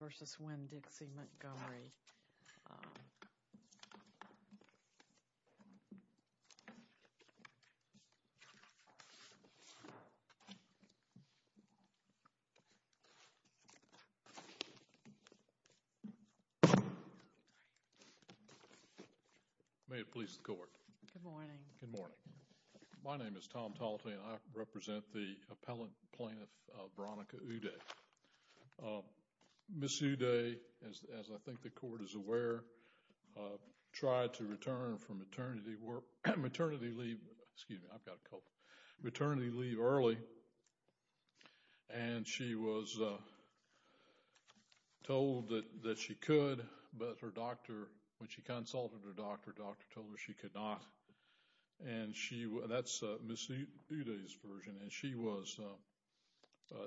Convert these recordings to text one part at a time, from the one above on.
v. Winn-Dixie Montgomery. May it please the court. Good morning. Good morning. My name is Tom Talte and I represent the appellant plaintiff Varonica Udeh. Ms. Udeh, as I think the court is aware, tried to return from maternity leave early and she was told that she could, but her doctor, when she consulted her doctor, her doctor told her she could not. That's Ms. Udeh's version. And she was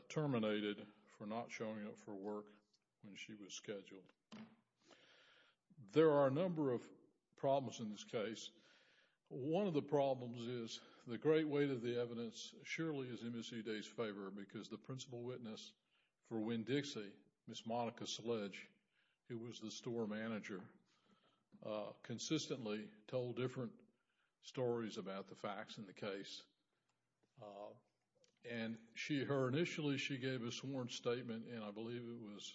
terminated for not showing up for work when she was scheduled. There are a number of problems in this case. One of the problems is the great weight of the evidence surely is in Ms. Udeh's favor because the principal witness for Winn-Dixie, Ms. Monica Sledge, who was the store manager, consistently told different stories about the facts in the case. And her initially she gave a sworn statement, and I believe it was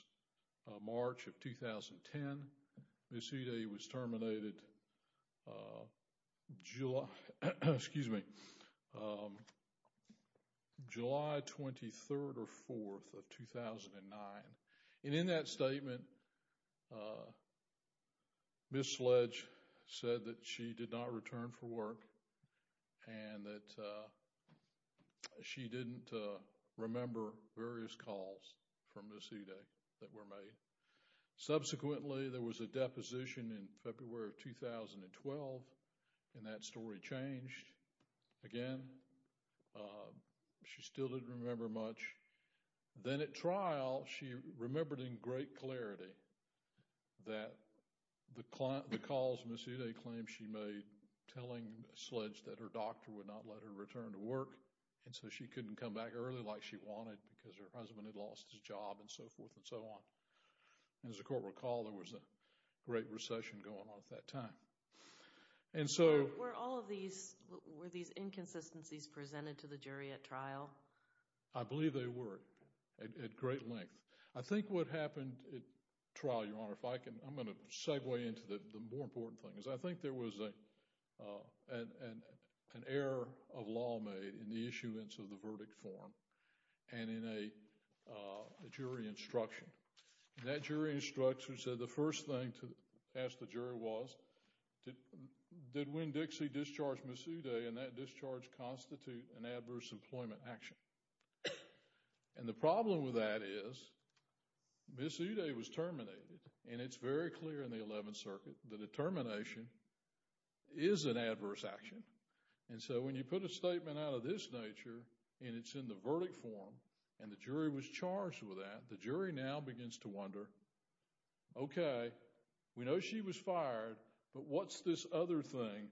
March of 2010, Ms. Udeh was terminated July 23rd or 4th of 2009. And in that statement, Ms. Sledge said that she did not return for work and that she didn't remember various calls from Ms. Udeh that were made. Subsequently, there was a deposition in February of 2012, and that story changed again. She still didn't remember much. Then at trial, she remembered in great clarity that the calls Ms. Udeh claimed she made telling Sledge that her doctor would not let her return to work and so she couldn't come back early like she wanted because her husband had lost his job and so forth and so on. As the court recalled, there was a great recession going on at that time. I believe they were at great length. I think what happened at trial, Your Honor, if I can, I'm going to segue into the more important things. I think there was an error of law made in the issuance of the verdict form and in a jury instruction. And that jury instruction said the first thing to ask the jury was, did Winn-Dixie discharge Ms. Udeh and that discharge constitute an adverse employment action? And the problem with that is Ms. Udeh was terminated, and it's very clear in the Eleventh Circuit that a termination is an adverse action. And so when you put a statement out of this nature and it's in the verdict form and the jury was charged with that, the jury now begins to wonder, okay, we know she was fired, but what's this other thing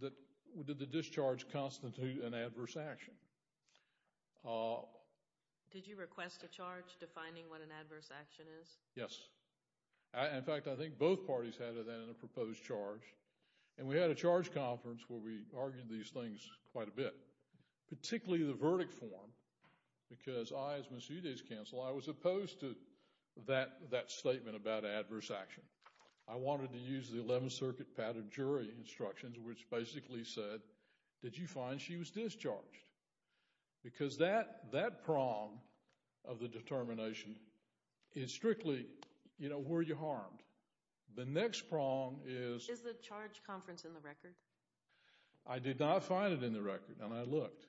that the discharge constitutes an adverse action? Did you request a charge defining what an adverse action is? Yes. In fact, I think both parties had that in a proposed charge. And we had a charge conference where we argued these things quite a bit, particularly the verdict form, because I, as Ms. Udeh's counsel, I was opposed to that statement about adverse action. I wanted to use the Eleventh Circuit pattern jury instructions, which basically said, did you find she was discharged? Because that prong of the determination is strictly, you know, were you harmed? The next prong is— Is the charge conference in the record? I did not find it in the record, and I looked.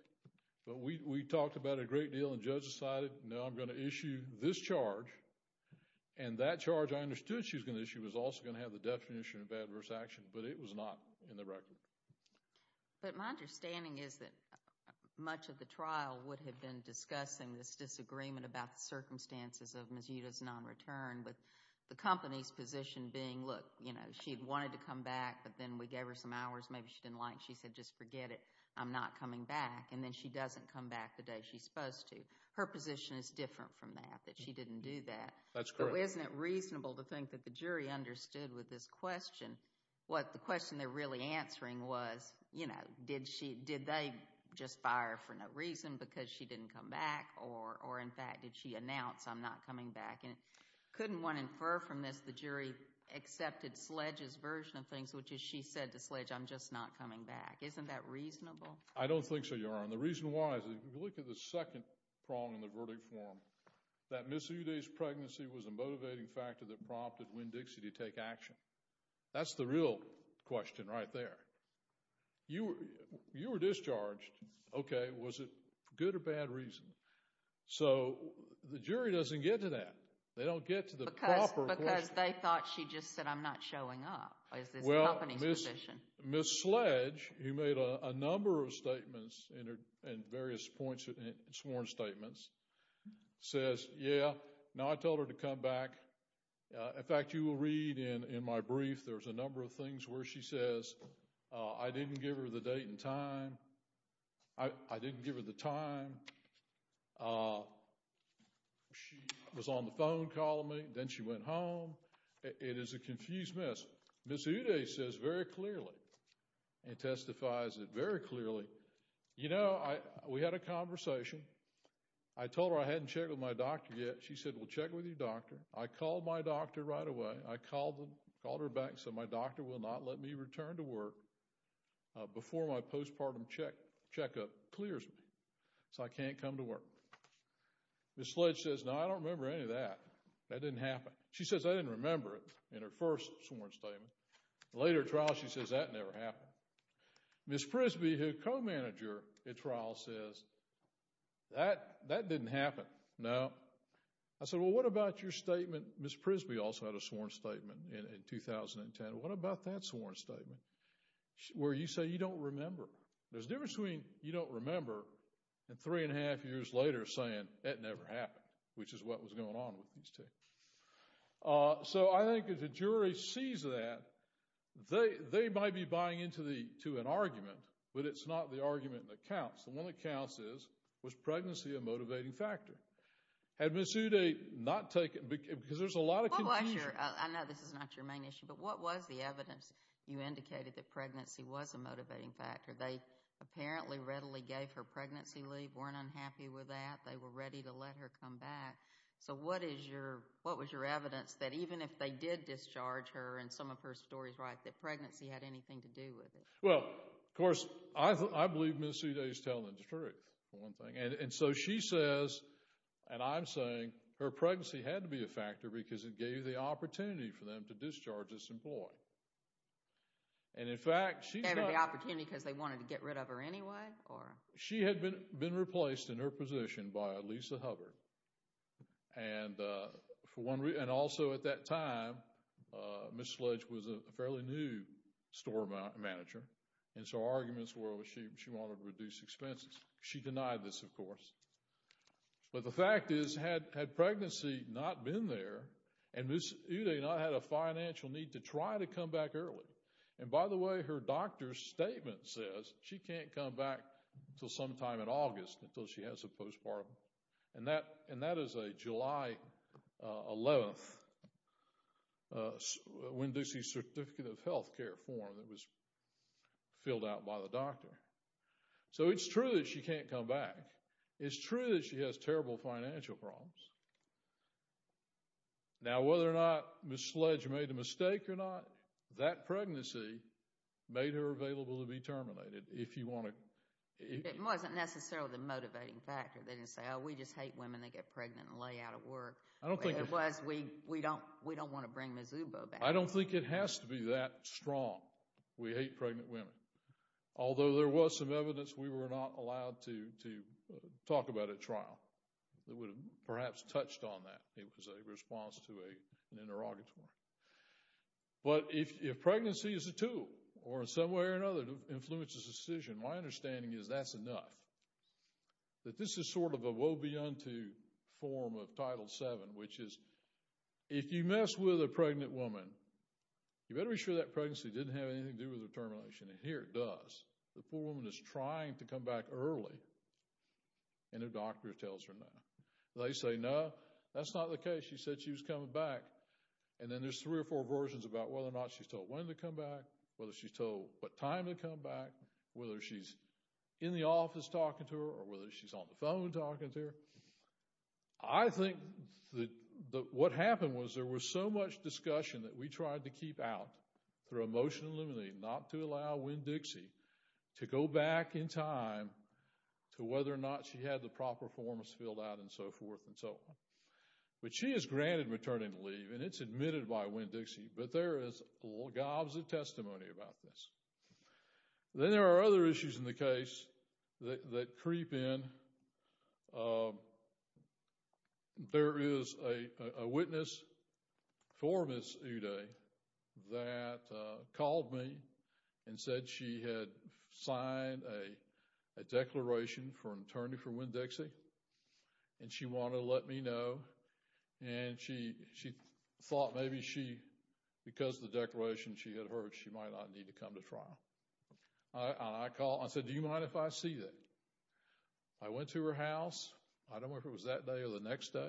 But we talked about it a great deal, and the judge decided, no, I'm going to issue this charge, and that charge I understood she was going to issue. It was also going to have the definition of adverse action, but it was not in the record. But my understanding is that much of the trial would have been discussing this disagreement about the circumstances of Ms. Udeh's non-return with the company's position being, look, you know, she wanted to come back, but then we gave her some hours. Maybe she didn't like it. She said, just forget it. I'm not coming back. And then she doesn't come back the day she's supposed to. Her position is different from that, that she didn't do that. That's correct. So isn't it reasonable to think that the jury understood with this question what the question they're really answering was, you know, did they just fire her for no reason because she didn't come back, or, in fact, did she announce, I'm not coming back? And couldn't one infer from this the jury accepted Sledge's version of things, which is she said to Sledge, I'm just not coming back. Isn't that reasonable? I don't think so, Your Honor. And the reason why is if you look at the second prong in the verdict form, that Ms. Udeh's pregnancy was a motivating factor that prompted Winn-Dixie to take action. That's the real question right there. You were discharged. Okay. Was it good or bad reason? So the jury doesn't get to that. They don't get to the proper question. Because they thought she just said, I'm not showing up. Well, Ms. Sledge, who made a number of statements and various points in sworn statements, says, yeah, no, I told her to come back. In fact, you will read in my brief there's a number of things where she says, I didn't give her the date and time. I didn't give her the time. She was on the phone calling me. Then she went home. It is a confused mess. Ms. Udeh says very clearly and testifies very clearly, you know, we had a conversation. I told her I hadn't checked with my doctor yet. She said, well, check with your doctor. I called my doctor right away. I called her back and said my doctor will not let me return to work before my postpartum checkup clears me so I can't come to work. Ms. Sledge says, no, I don't remember any of that. That didn't happen. She says I didn't remember it in her first sworn statement. The later trial she says that never happened. Ms. Prisby, her co-manager at trial, says that didn't happen. No. I said, well, what about your statement? Ms. Prisby also had a sworn statement in 2010. What about that sworn statement where you say you don't remember? There's a difference between you don't remember and three and a half years later saying it never happened, which is what was going on with these two. So I think if the jury sees that, they might be buying into an argument, but it's not the argument that counts. The one that counts is, was pregnancy a motivating factor? Had Ms. Uday not taken because there's a lot of confusion. I know this is not your main issue, but what was the evidence you indicated that pregnancy was a motivating factor? They apparently readily gave her pregnancy leave, weren't unhappy with that, they were ready to let her come back. So what was your evidence that even if they did discharge her, and some of her story is right, that pregnancy had anything to do with it? Well, of course, I believe Ms. Uday is telling the truth, for one thing. And so she says, and I'm saying, her pregnancy had to be a factor because it gave the opportunity for them to discharge this employee. And, in fact, she said— They had the opportunity because they wanted to get rid of her anyway? She had been replaced in her position by Lisa Hubbard. And also at that time, Ms. Sludge was a fairly new store manager, and so arguments were she wanted to reduce expenses. She denied this, of course. But the fact is, had pregnancy not been there, and Ms. Uday not had a financial need to try to come back early— And, by the way, her doctor's statement says she can't come back until sometime in August, until she has a postpartum. And that is a July 11th Winn-Dixie Certificate of Healthcare form that was filled out by the doctor. So it's true that she can't come back. It's true that she has terrible financial problems. Now, whether or not Ms. Sludge made a mistake or not, that pregnancy made her available to be terminated if you want to— It wasn't necessarily the motivating factor. They didn't say, oh, we just hate women that get pregnant and lay out of work. It was, we don't want to bring Ms. Ubo back. I don't think it has to be that strong, we hate pregnant women. Although there was some evidence we were not allowed to talk about at trial that would have perhaps touched on that. It was a response to an interrogatory. But if pregnancy is a tool or in some way or another influences a decision, my understanding is that's enough. That this is sort of a woe-be-unto form of Title VII, which is if you mess with a pregnant woman, you better be sure that pregnancy didn't have anything to do with her termination. And here it does. The poor woman is trying to come back early and her doctor tells her no. They say, no, that's not the case. She said she was coming back. And then there's three or four versions about whether or not she's told when to come back, whether she's told what time to come back, whether she's in the office talking to her, or whether she's on the phone talking to her. I think that what happened was there was so much discussion that we tried to keep out through a motion eliminating not to allow Winn-Dixie to go back in time to whether or not she had the proper forms filled out and so forth and so on. But she is granted returning to leave and it's admitted by Winn-Dixie, but there is logs of testimony about this. Then there are other issues in the case that creep in. There is a witness for Ms. Uday that called me and said she had signed a declaration for an attorney for Winn-Dixie and she wanted to let me know and she thought maybe because of the declaration she had heard she might not need to come to trial. I said, do you mind if I see that? I went to her house. I don't know if it was that day or the next day.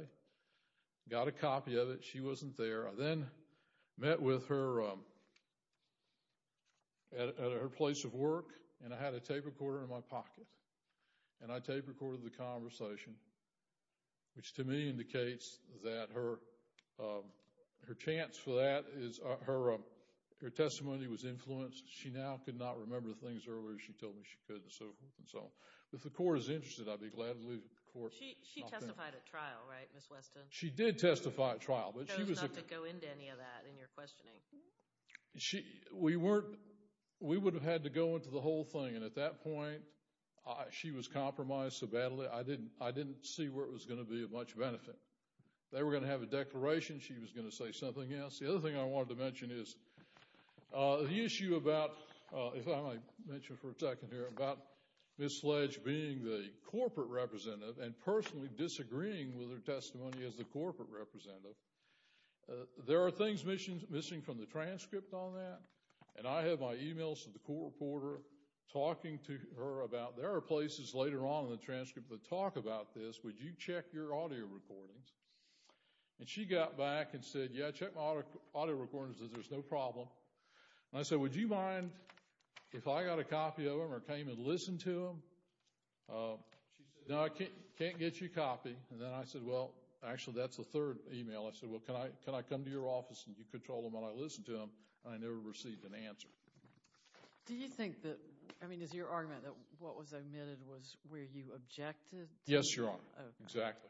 Got a copy of it. She wasn't there. I then met with her at her place of work and I had a tape recorder in my pocket. I tape recorded the conversation, which to me indicates that her chance for that, her testimony was influenced. She now could not remember things earlier she told me she could and so forth and so on. If the court is interested, I'd be glad to leave the court. She testified at trial, right, Ms. Weston? She did testify at trial. It shows not to go into any of that in your questioning. We would have had to go into the whole thing and at that point she was compromised so badly I didn't see where it was going to be of much benefit. They were going to have a declaration. She was going to say something else. The other thing I wanted to mention is the issue about, if I might mention for a second here, about Ms. Fletch being the corporate representative and personally disagreeing with her testimony as the corporate representative. There are things missing from the transcript on that and I have my emails to the court reporter talking to her about, there are places later on in the transcript that talk about this. Would you check your audio recordings? And she got back and said, yeah, I checked my audio recordings. She said, there's no problem. And I said, would you mind if I got a copy of them or came and listened to them? She said, no, I can't get you a copy. And then I said, well, actually that's the third email. I said, well, can I come to your office and you can control them while I listen to them? And I never received an answer. Do you think that, I mean is your argument that what was omitted was where you objected? Yes, Your Honor. Exactly.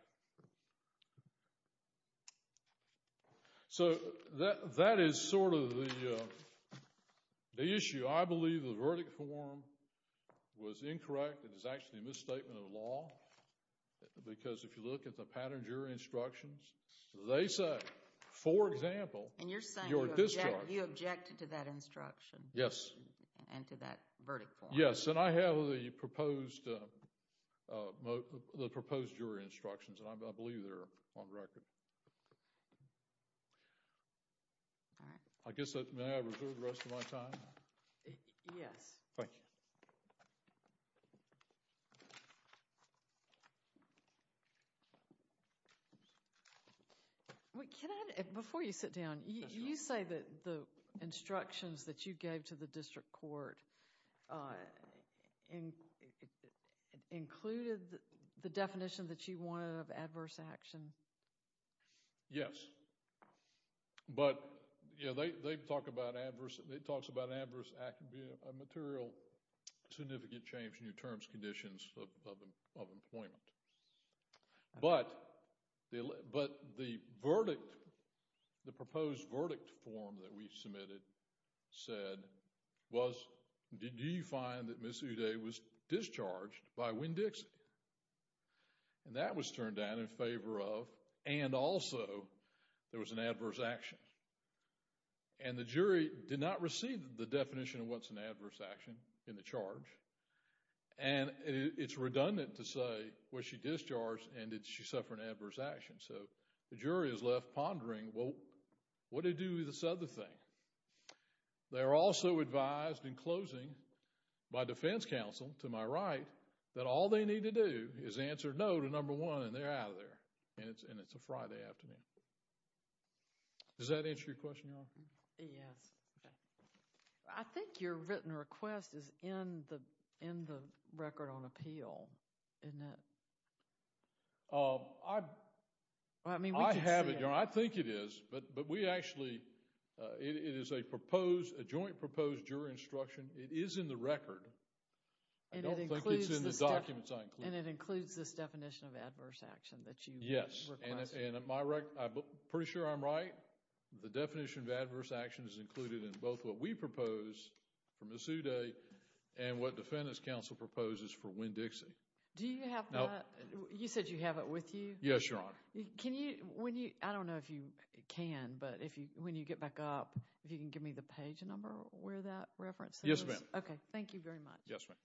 So that is sort of the issue. I believe the verdict form was incorrect. It is actually a misstatement of the law because if you look at the pattern jury instructions, they say, for example, you're at discharge. And you're saying you objected to that instruction. Yes. And to that verdict form. Yes, and I have the proposed jury instructions and I believe they're on record. I guess, may I reserve the rest of my time? Yes. Thank you. Thank you. Before you sit down, you say that the instructions that you gave to the district court included the definition that you wanted of adverse action? Yes. But, you know, they talk about adverse, it talks about adverse material significant change in your terms, conditions of employment. But the verdict, the proposed verdict form that we submitted said was, did you find that Ms. Uday was discharged by Winn-Dixie? And that was turned down in favor of, and also, there was an adverse action. And the jury did not receive the definition of what's an adverse action in the charge. And it's redundant to say, was she discharged and did she suffer an adverse action? So, the jury is left pondering, well, what to do with this other thing? They're also advised, in closing, by defense counsel, to my right, that all they need to do is answer no to number one and they're out of there. And it's a Friday afternoon. Does that answer your question, Your Honor? Yes. I think your written request is in the record on appeal, isn't it? I mean, we can see it. I have it, Your Honor. I think it is. But we actually, it is a proposed, a joint proposed jury instruction. It is in the record. I don't think it's in the documents I included. And it includes this definition of adverse action that you requested. Yes. And at my right, I'm pretty sure I'm right. The definition of adverse action is included in both what we propose for Ms. Uday and what defense counsel proposes for Winn-Dixie. Do you have that? You said you have it with you? Yes, Your Honor. Can you, when you, I don't know if you can, but if you, when you get back up, if you can give me the page number where that reference is? Yes, ma'am. Okay. Thank you very much. Yes, ma'am.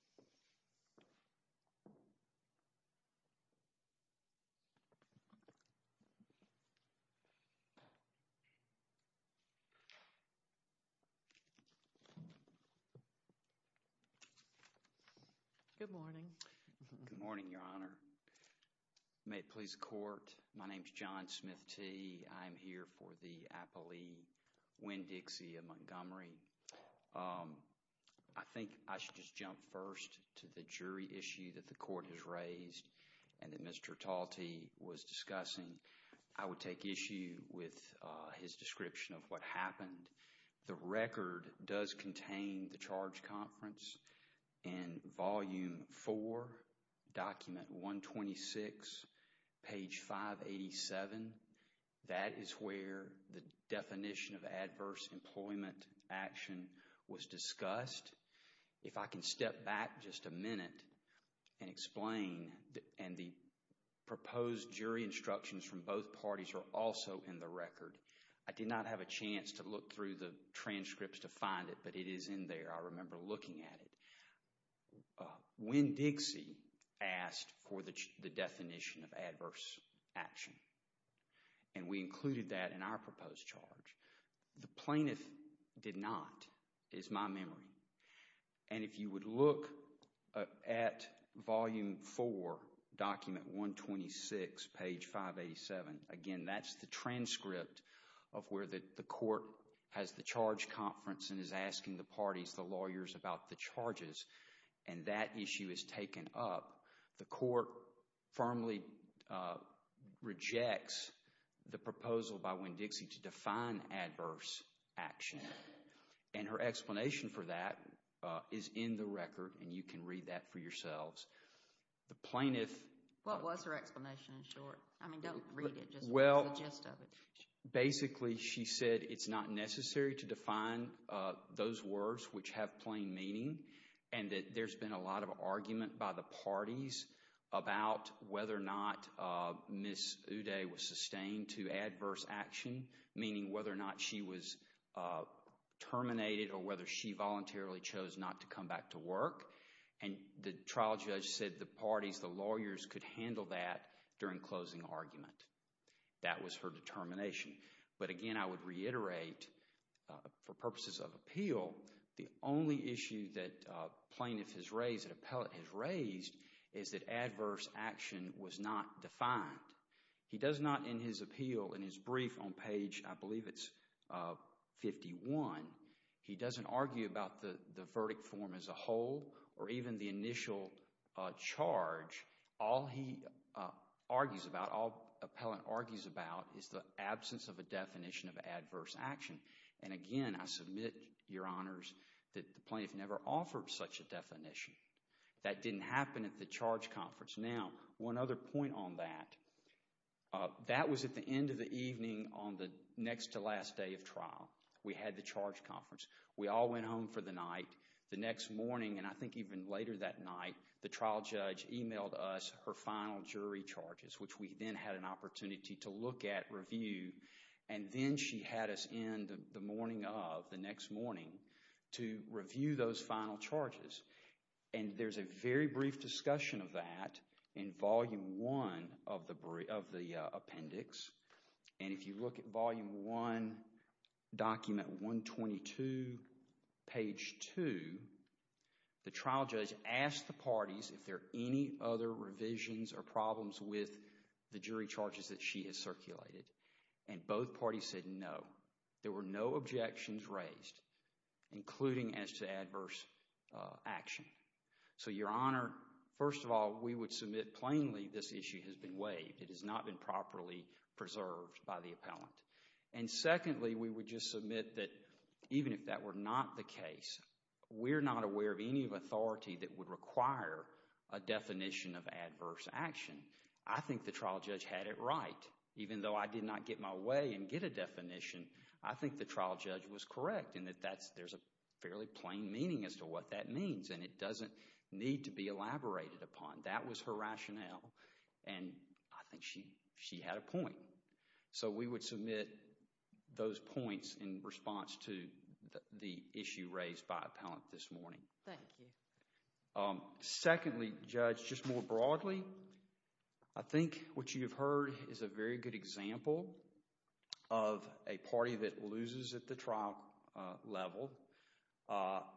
Good morning. Good morning, Your Honor. May it please the Court, my name is John Smith Tee. I'm here for the appellee, Winn-Dixie of Montgomery. I think I should just jump first to the jury issue that the Court has raised and that Mr. Talte was discussing. I would take issue with his description of what happened. The record does contain the charge conference in Volume 4, Document 126, page 587. That is where the definition of adverse employment action was discussed. If I can step back just a minute and explain, and the proposed jury instructions from both parties are also in the record. I did not have a chance to look through the transcripts to find it, but it is in there. I remember looking at it. Winn-Dixie asked for the definition of adverse action, and we included that in our proposed charge. The plaintiff did not, is my memory. If you would look at Volume 4, Document 126, page 587, again, that's the transcript of where the Court has the charge conference and is asking the parties, the lawyers, about the charges, and that issue is taken up. The Court firmly rejects the proposal by Winn-Dixie to define adverse action. And her explanation for that is in the record, and you can read that for yourselves. The plaintiff... What was her explanation in short? I mean, don't read it. Well, basically she said it's not necessary to define those words which have plain meaning, and that there's been a lot of argument by the parties about whether or not Ms. Uday was sustained to adverse action, meaning whether or not she was terminated or whether she voluntarily chose not to come back to work. And the trial judge said the parties, the lawyers, could handle that during closing argument. That was her determination. But again, I would reiterate, for purposes of appeal, the only issue that plaintiff has raised, that appellate has raised, is that adverse action was not defined. He does not, in his appeal, in his brief on page, I believe it's 51, he doesn't argue about the verdict form as a whole or even the initial charge. All he argues about, all appellant argues about is the absence of a definition of adverse action. And again, I submit, Your Honors, that the plaintiff never offered such a definition. That didn't happen at the charge conference. Now, one other point on that. That was at the end of the evening on the next to last day of trial. We had the charge conference. We all went home for the night. The next morning, and I think even later that night, the trial judge emailed us her final jury charges, which we then had an opportunity to look at, review, and then she had us in the morning of, the next morning, to review those final charges. And there's a very brief discussion of that in volume one of the appendix. And if you look at volume one, document 122, page two, the trial judge asked the parties if there are any other revisions or problems with the jury charges that she has circulated. And both parties said no. There were no objections raised, including as to adverse action. So, Your Honor, first of all, we would submit plainly this issue has been waived. It has not been properly preserved by the appellant. And secondly, we would just submit that even if that were not the case, we're not aware of any authority that would require a definition of adverse action. I think the trial judge had it right. Even though I did not get my way and get a definition, I think the trial judge was correct in that there's a fairly plain meaning as to what that means, and it doesn't need to be elaborated upon. That was her rationale, and I think she had a point. So, we would submit those points in response to the issue raised by appellant this morning. Thank you. Secondly, Judge, just more broadly, I think what you have heard is a very good example of a party that loses at the trial level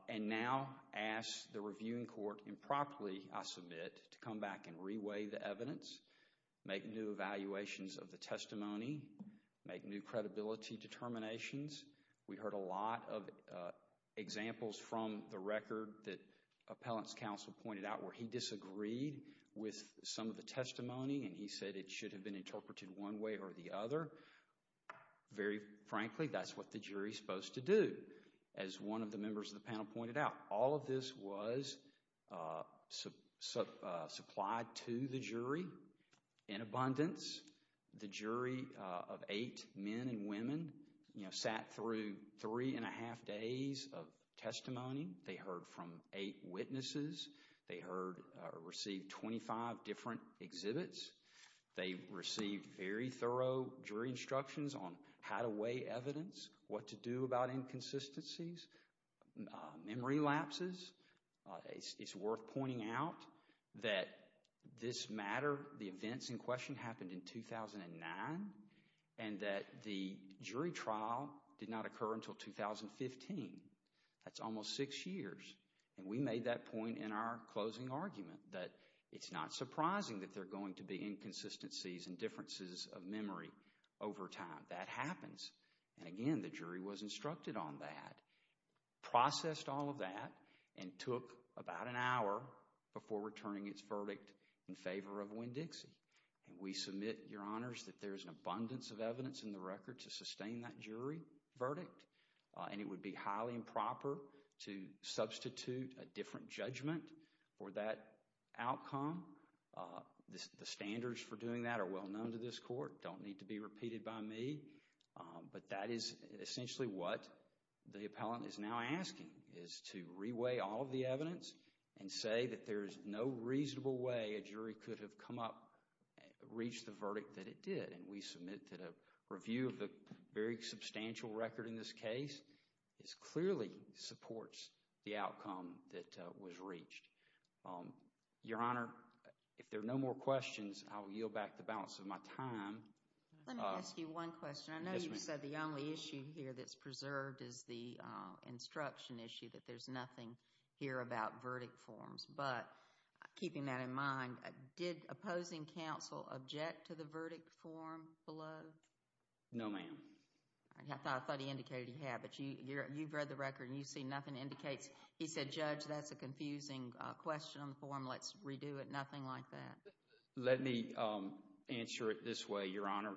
and now asks the reviewing court improperly, I submit, to come back and re-weigh the evidence, make new evaluations of the testimony, make new credibility determinations. We heard a lot of examples from the record that appellant's counsel pointed out where he disagreed with some of the testimony, and he said it should have been interpreted one way or the other. Very frankly, that's what the jury is supposed to do, as one of the members of the panel pointed out. All of this was supplied to the jury in abundance. The jury of eight men and women sat through three and a half days of testimony. They heard from eight witnesses. They received 25 different exhibits. They received very thorough jury instructions on how to weigh evidence, what to do about inconsistencies, memory lapses. It's worth pointing out that this matter, the events in question happened in 2009, and that the jury trial did not occur until 2015. That's almost six years, and we made that point in our closing argument that it's not surprising that there are going to be inconsistencies and differences of memory over time. That happens. Again, the jury was instructed on that, processed all of that, and took about an hour before returning its verdict in favor of Winn-Dixie. We submit, Your Honors, that there is an abundance of evidence in the record to sustain that jury verdict, and it would be highly improper to substitute a different judgment for that outcome. The standards for doing that are well known to this court. They don't need to be repeated by me, but that is essentially what the appellant is now asking, is to re-weigh all of the evidence and say that there is no reasonable way a jury could have come up and reached the verdict that it did. We submit that a review of the very substantial record in this case clearly supports the outcome that was reached. Your Honor, if there are no more questions, I will yield back the balance of my time. Let me ask you one question. Yes, ma'am. I know you said the only issue here that's preserved is the instruction issue, that there's nothing here about verdict forms, but keeping that in mind, did opposing counsel object to the verdict form below? No, ma'am. I thought he indicated he had, but you've read the record and you see nothing indicates. He said, Judge, that's a confusing question on the form. Let's redo it. Nothing like that. Let me answer it this way, Your Honor.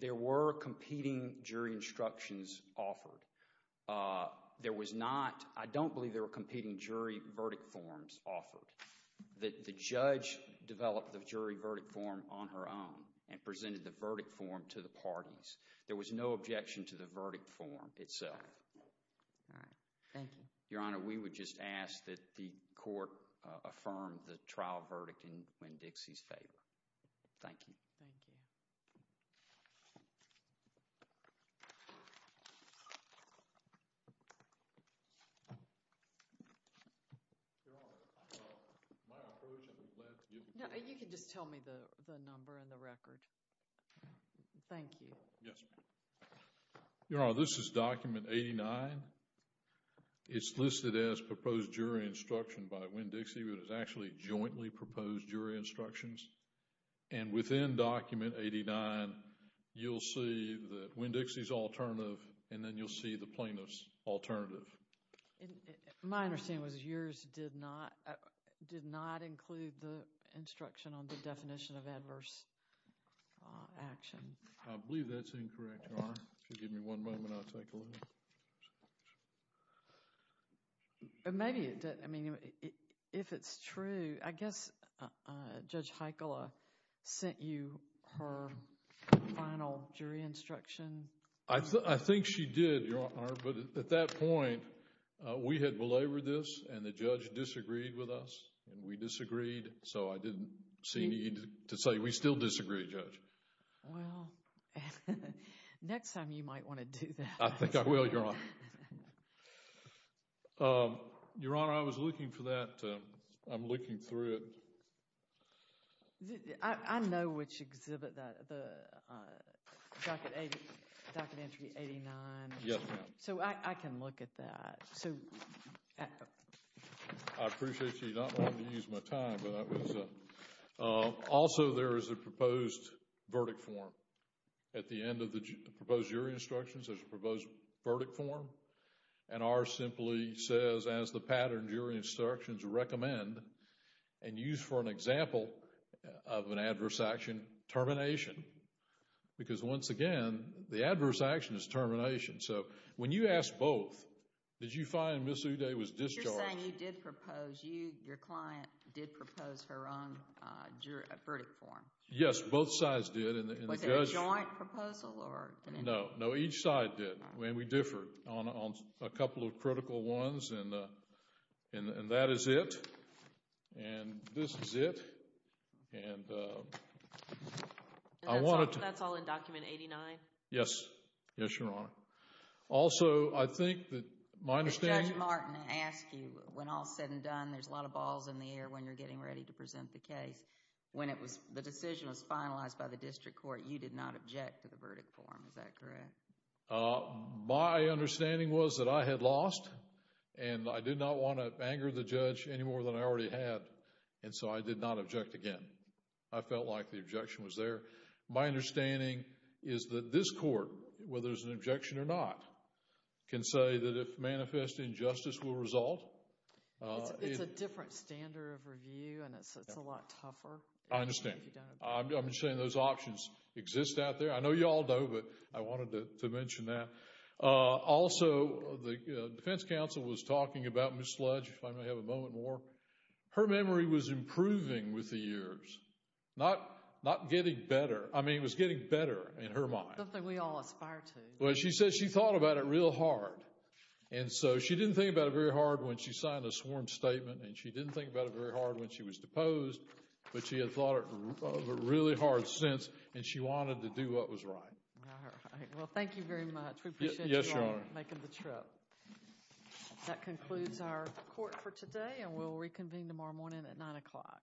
There were competing jury instructions offered. There was not, I don't believe there were competing jury verdict forms offered. The judge developed the jury verdict form on her own and presented the verdict form to the parties. There was no objection to the verdict form itself. All right. Thank you. Your Honor, we would just ask that the court affirm the trial verdict in Winn-Dixie's favor. Thank you. Thank you. Your Honor, my approach has led you. You can just tell me the number and the record. Thank you. Yes, ma'am. Your Honor, this is document 89. It's listed as proposed jury instruction by Winn-Dixie, but it's actually jointly proposed jury instructions. And within document 89, you'll see that Winn-Dixie's alternative and then you'll see the plaintiff's alternative. My understanding was yours did not include the instruction on the definition of adverse action. I believe that's incorrect, Your Honor. If you give me one moment, I'll take a look. Maybe it did. I mean, if it's true, I guess Judge Heikkila sent you her final jury instruction. I think she did, Your Honor, but at that point, we had belabored this and the judge disagreed with us and we disagreed. Well, next time you might want to do that. I think I will, Your Honor. Your Honor, I was looking for that. I'm looking through it. I know which exhibit, the docket entry 89. Yes, ma'am. So I can look at that. I appreciate you not wanting to use my time, but that was... Also, there is a proposed verdict form at the end of the proposed jury instructions. There's a proposed verdict form and ours simply says, as the pattern jury instructions recommend and used for an example of an adverse action, termination. Because once again, the adverse action is termination. So when you asked both, did you find Ms. Uday was discharged? If you're saying you did propose, your client did propose her own verdict form. Yes, both sides did. Was it a joint proposal? No, each side did and we differed on a couple of critical ones and that is it. And this is it. That's all in document 89? Yes, Your Honor. Also, I think that my understanding... When all is said and done, there's a lot of balls in the air when you're getting ready to present the case. When the decision was finalized by the district court, you did not object to the verdict form. Is that correct? My understanding was that I had lost and I did not want to anger the judge any more than I already had. And so I did not object again. I felt like the objection was there. My understanding is that this court, whether there's an objection or not, can say that if manifest injustice will result. It's a different standard of review and it's a lot tougher. I understand. I'm just saying those options exist out there. I know you all know, but I wanted to mention that. Also, the defense counsel was talking about Ms. Sludge, if I may have a moment more. Her memory was improving with the years, not getting better. I mean, it was getting better in her mind. Something we all aspire to. Well, she said she thought about it real hard. And so she didn't think about it very hard when she signed the sworn statement and she didn't think about it very hard when she was deposed, but she had thought of it really hard since and she wanted to do what was right. All right. Well, thank you very much. We appreciate you all making the trip. That concludes our court for today, and we'll reconvene tomorrow morning at 9 o'clock.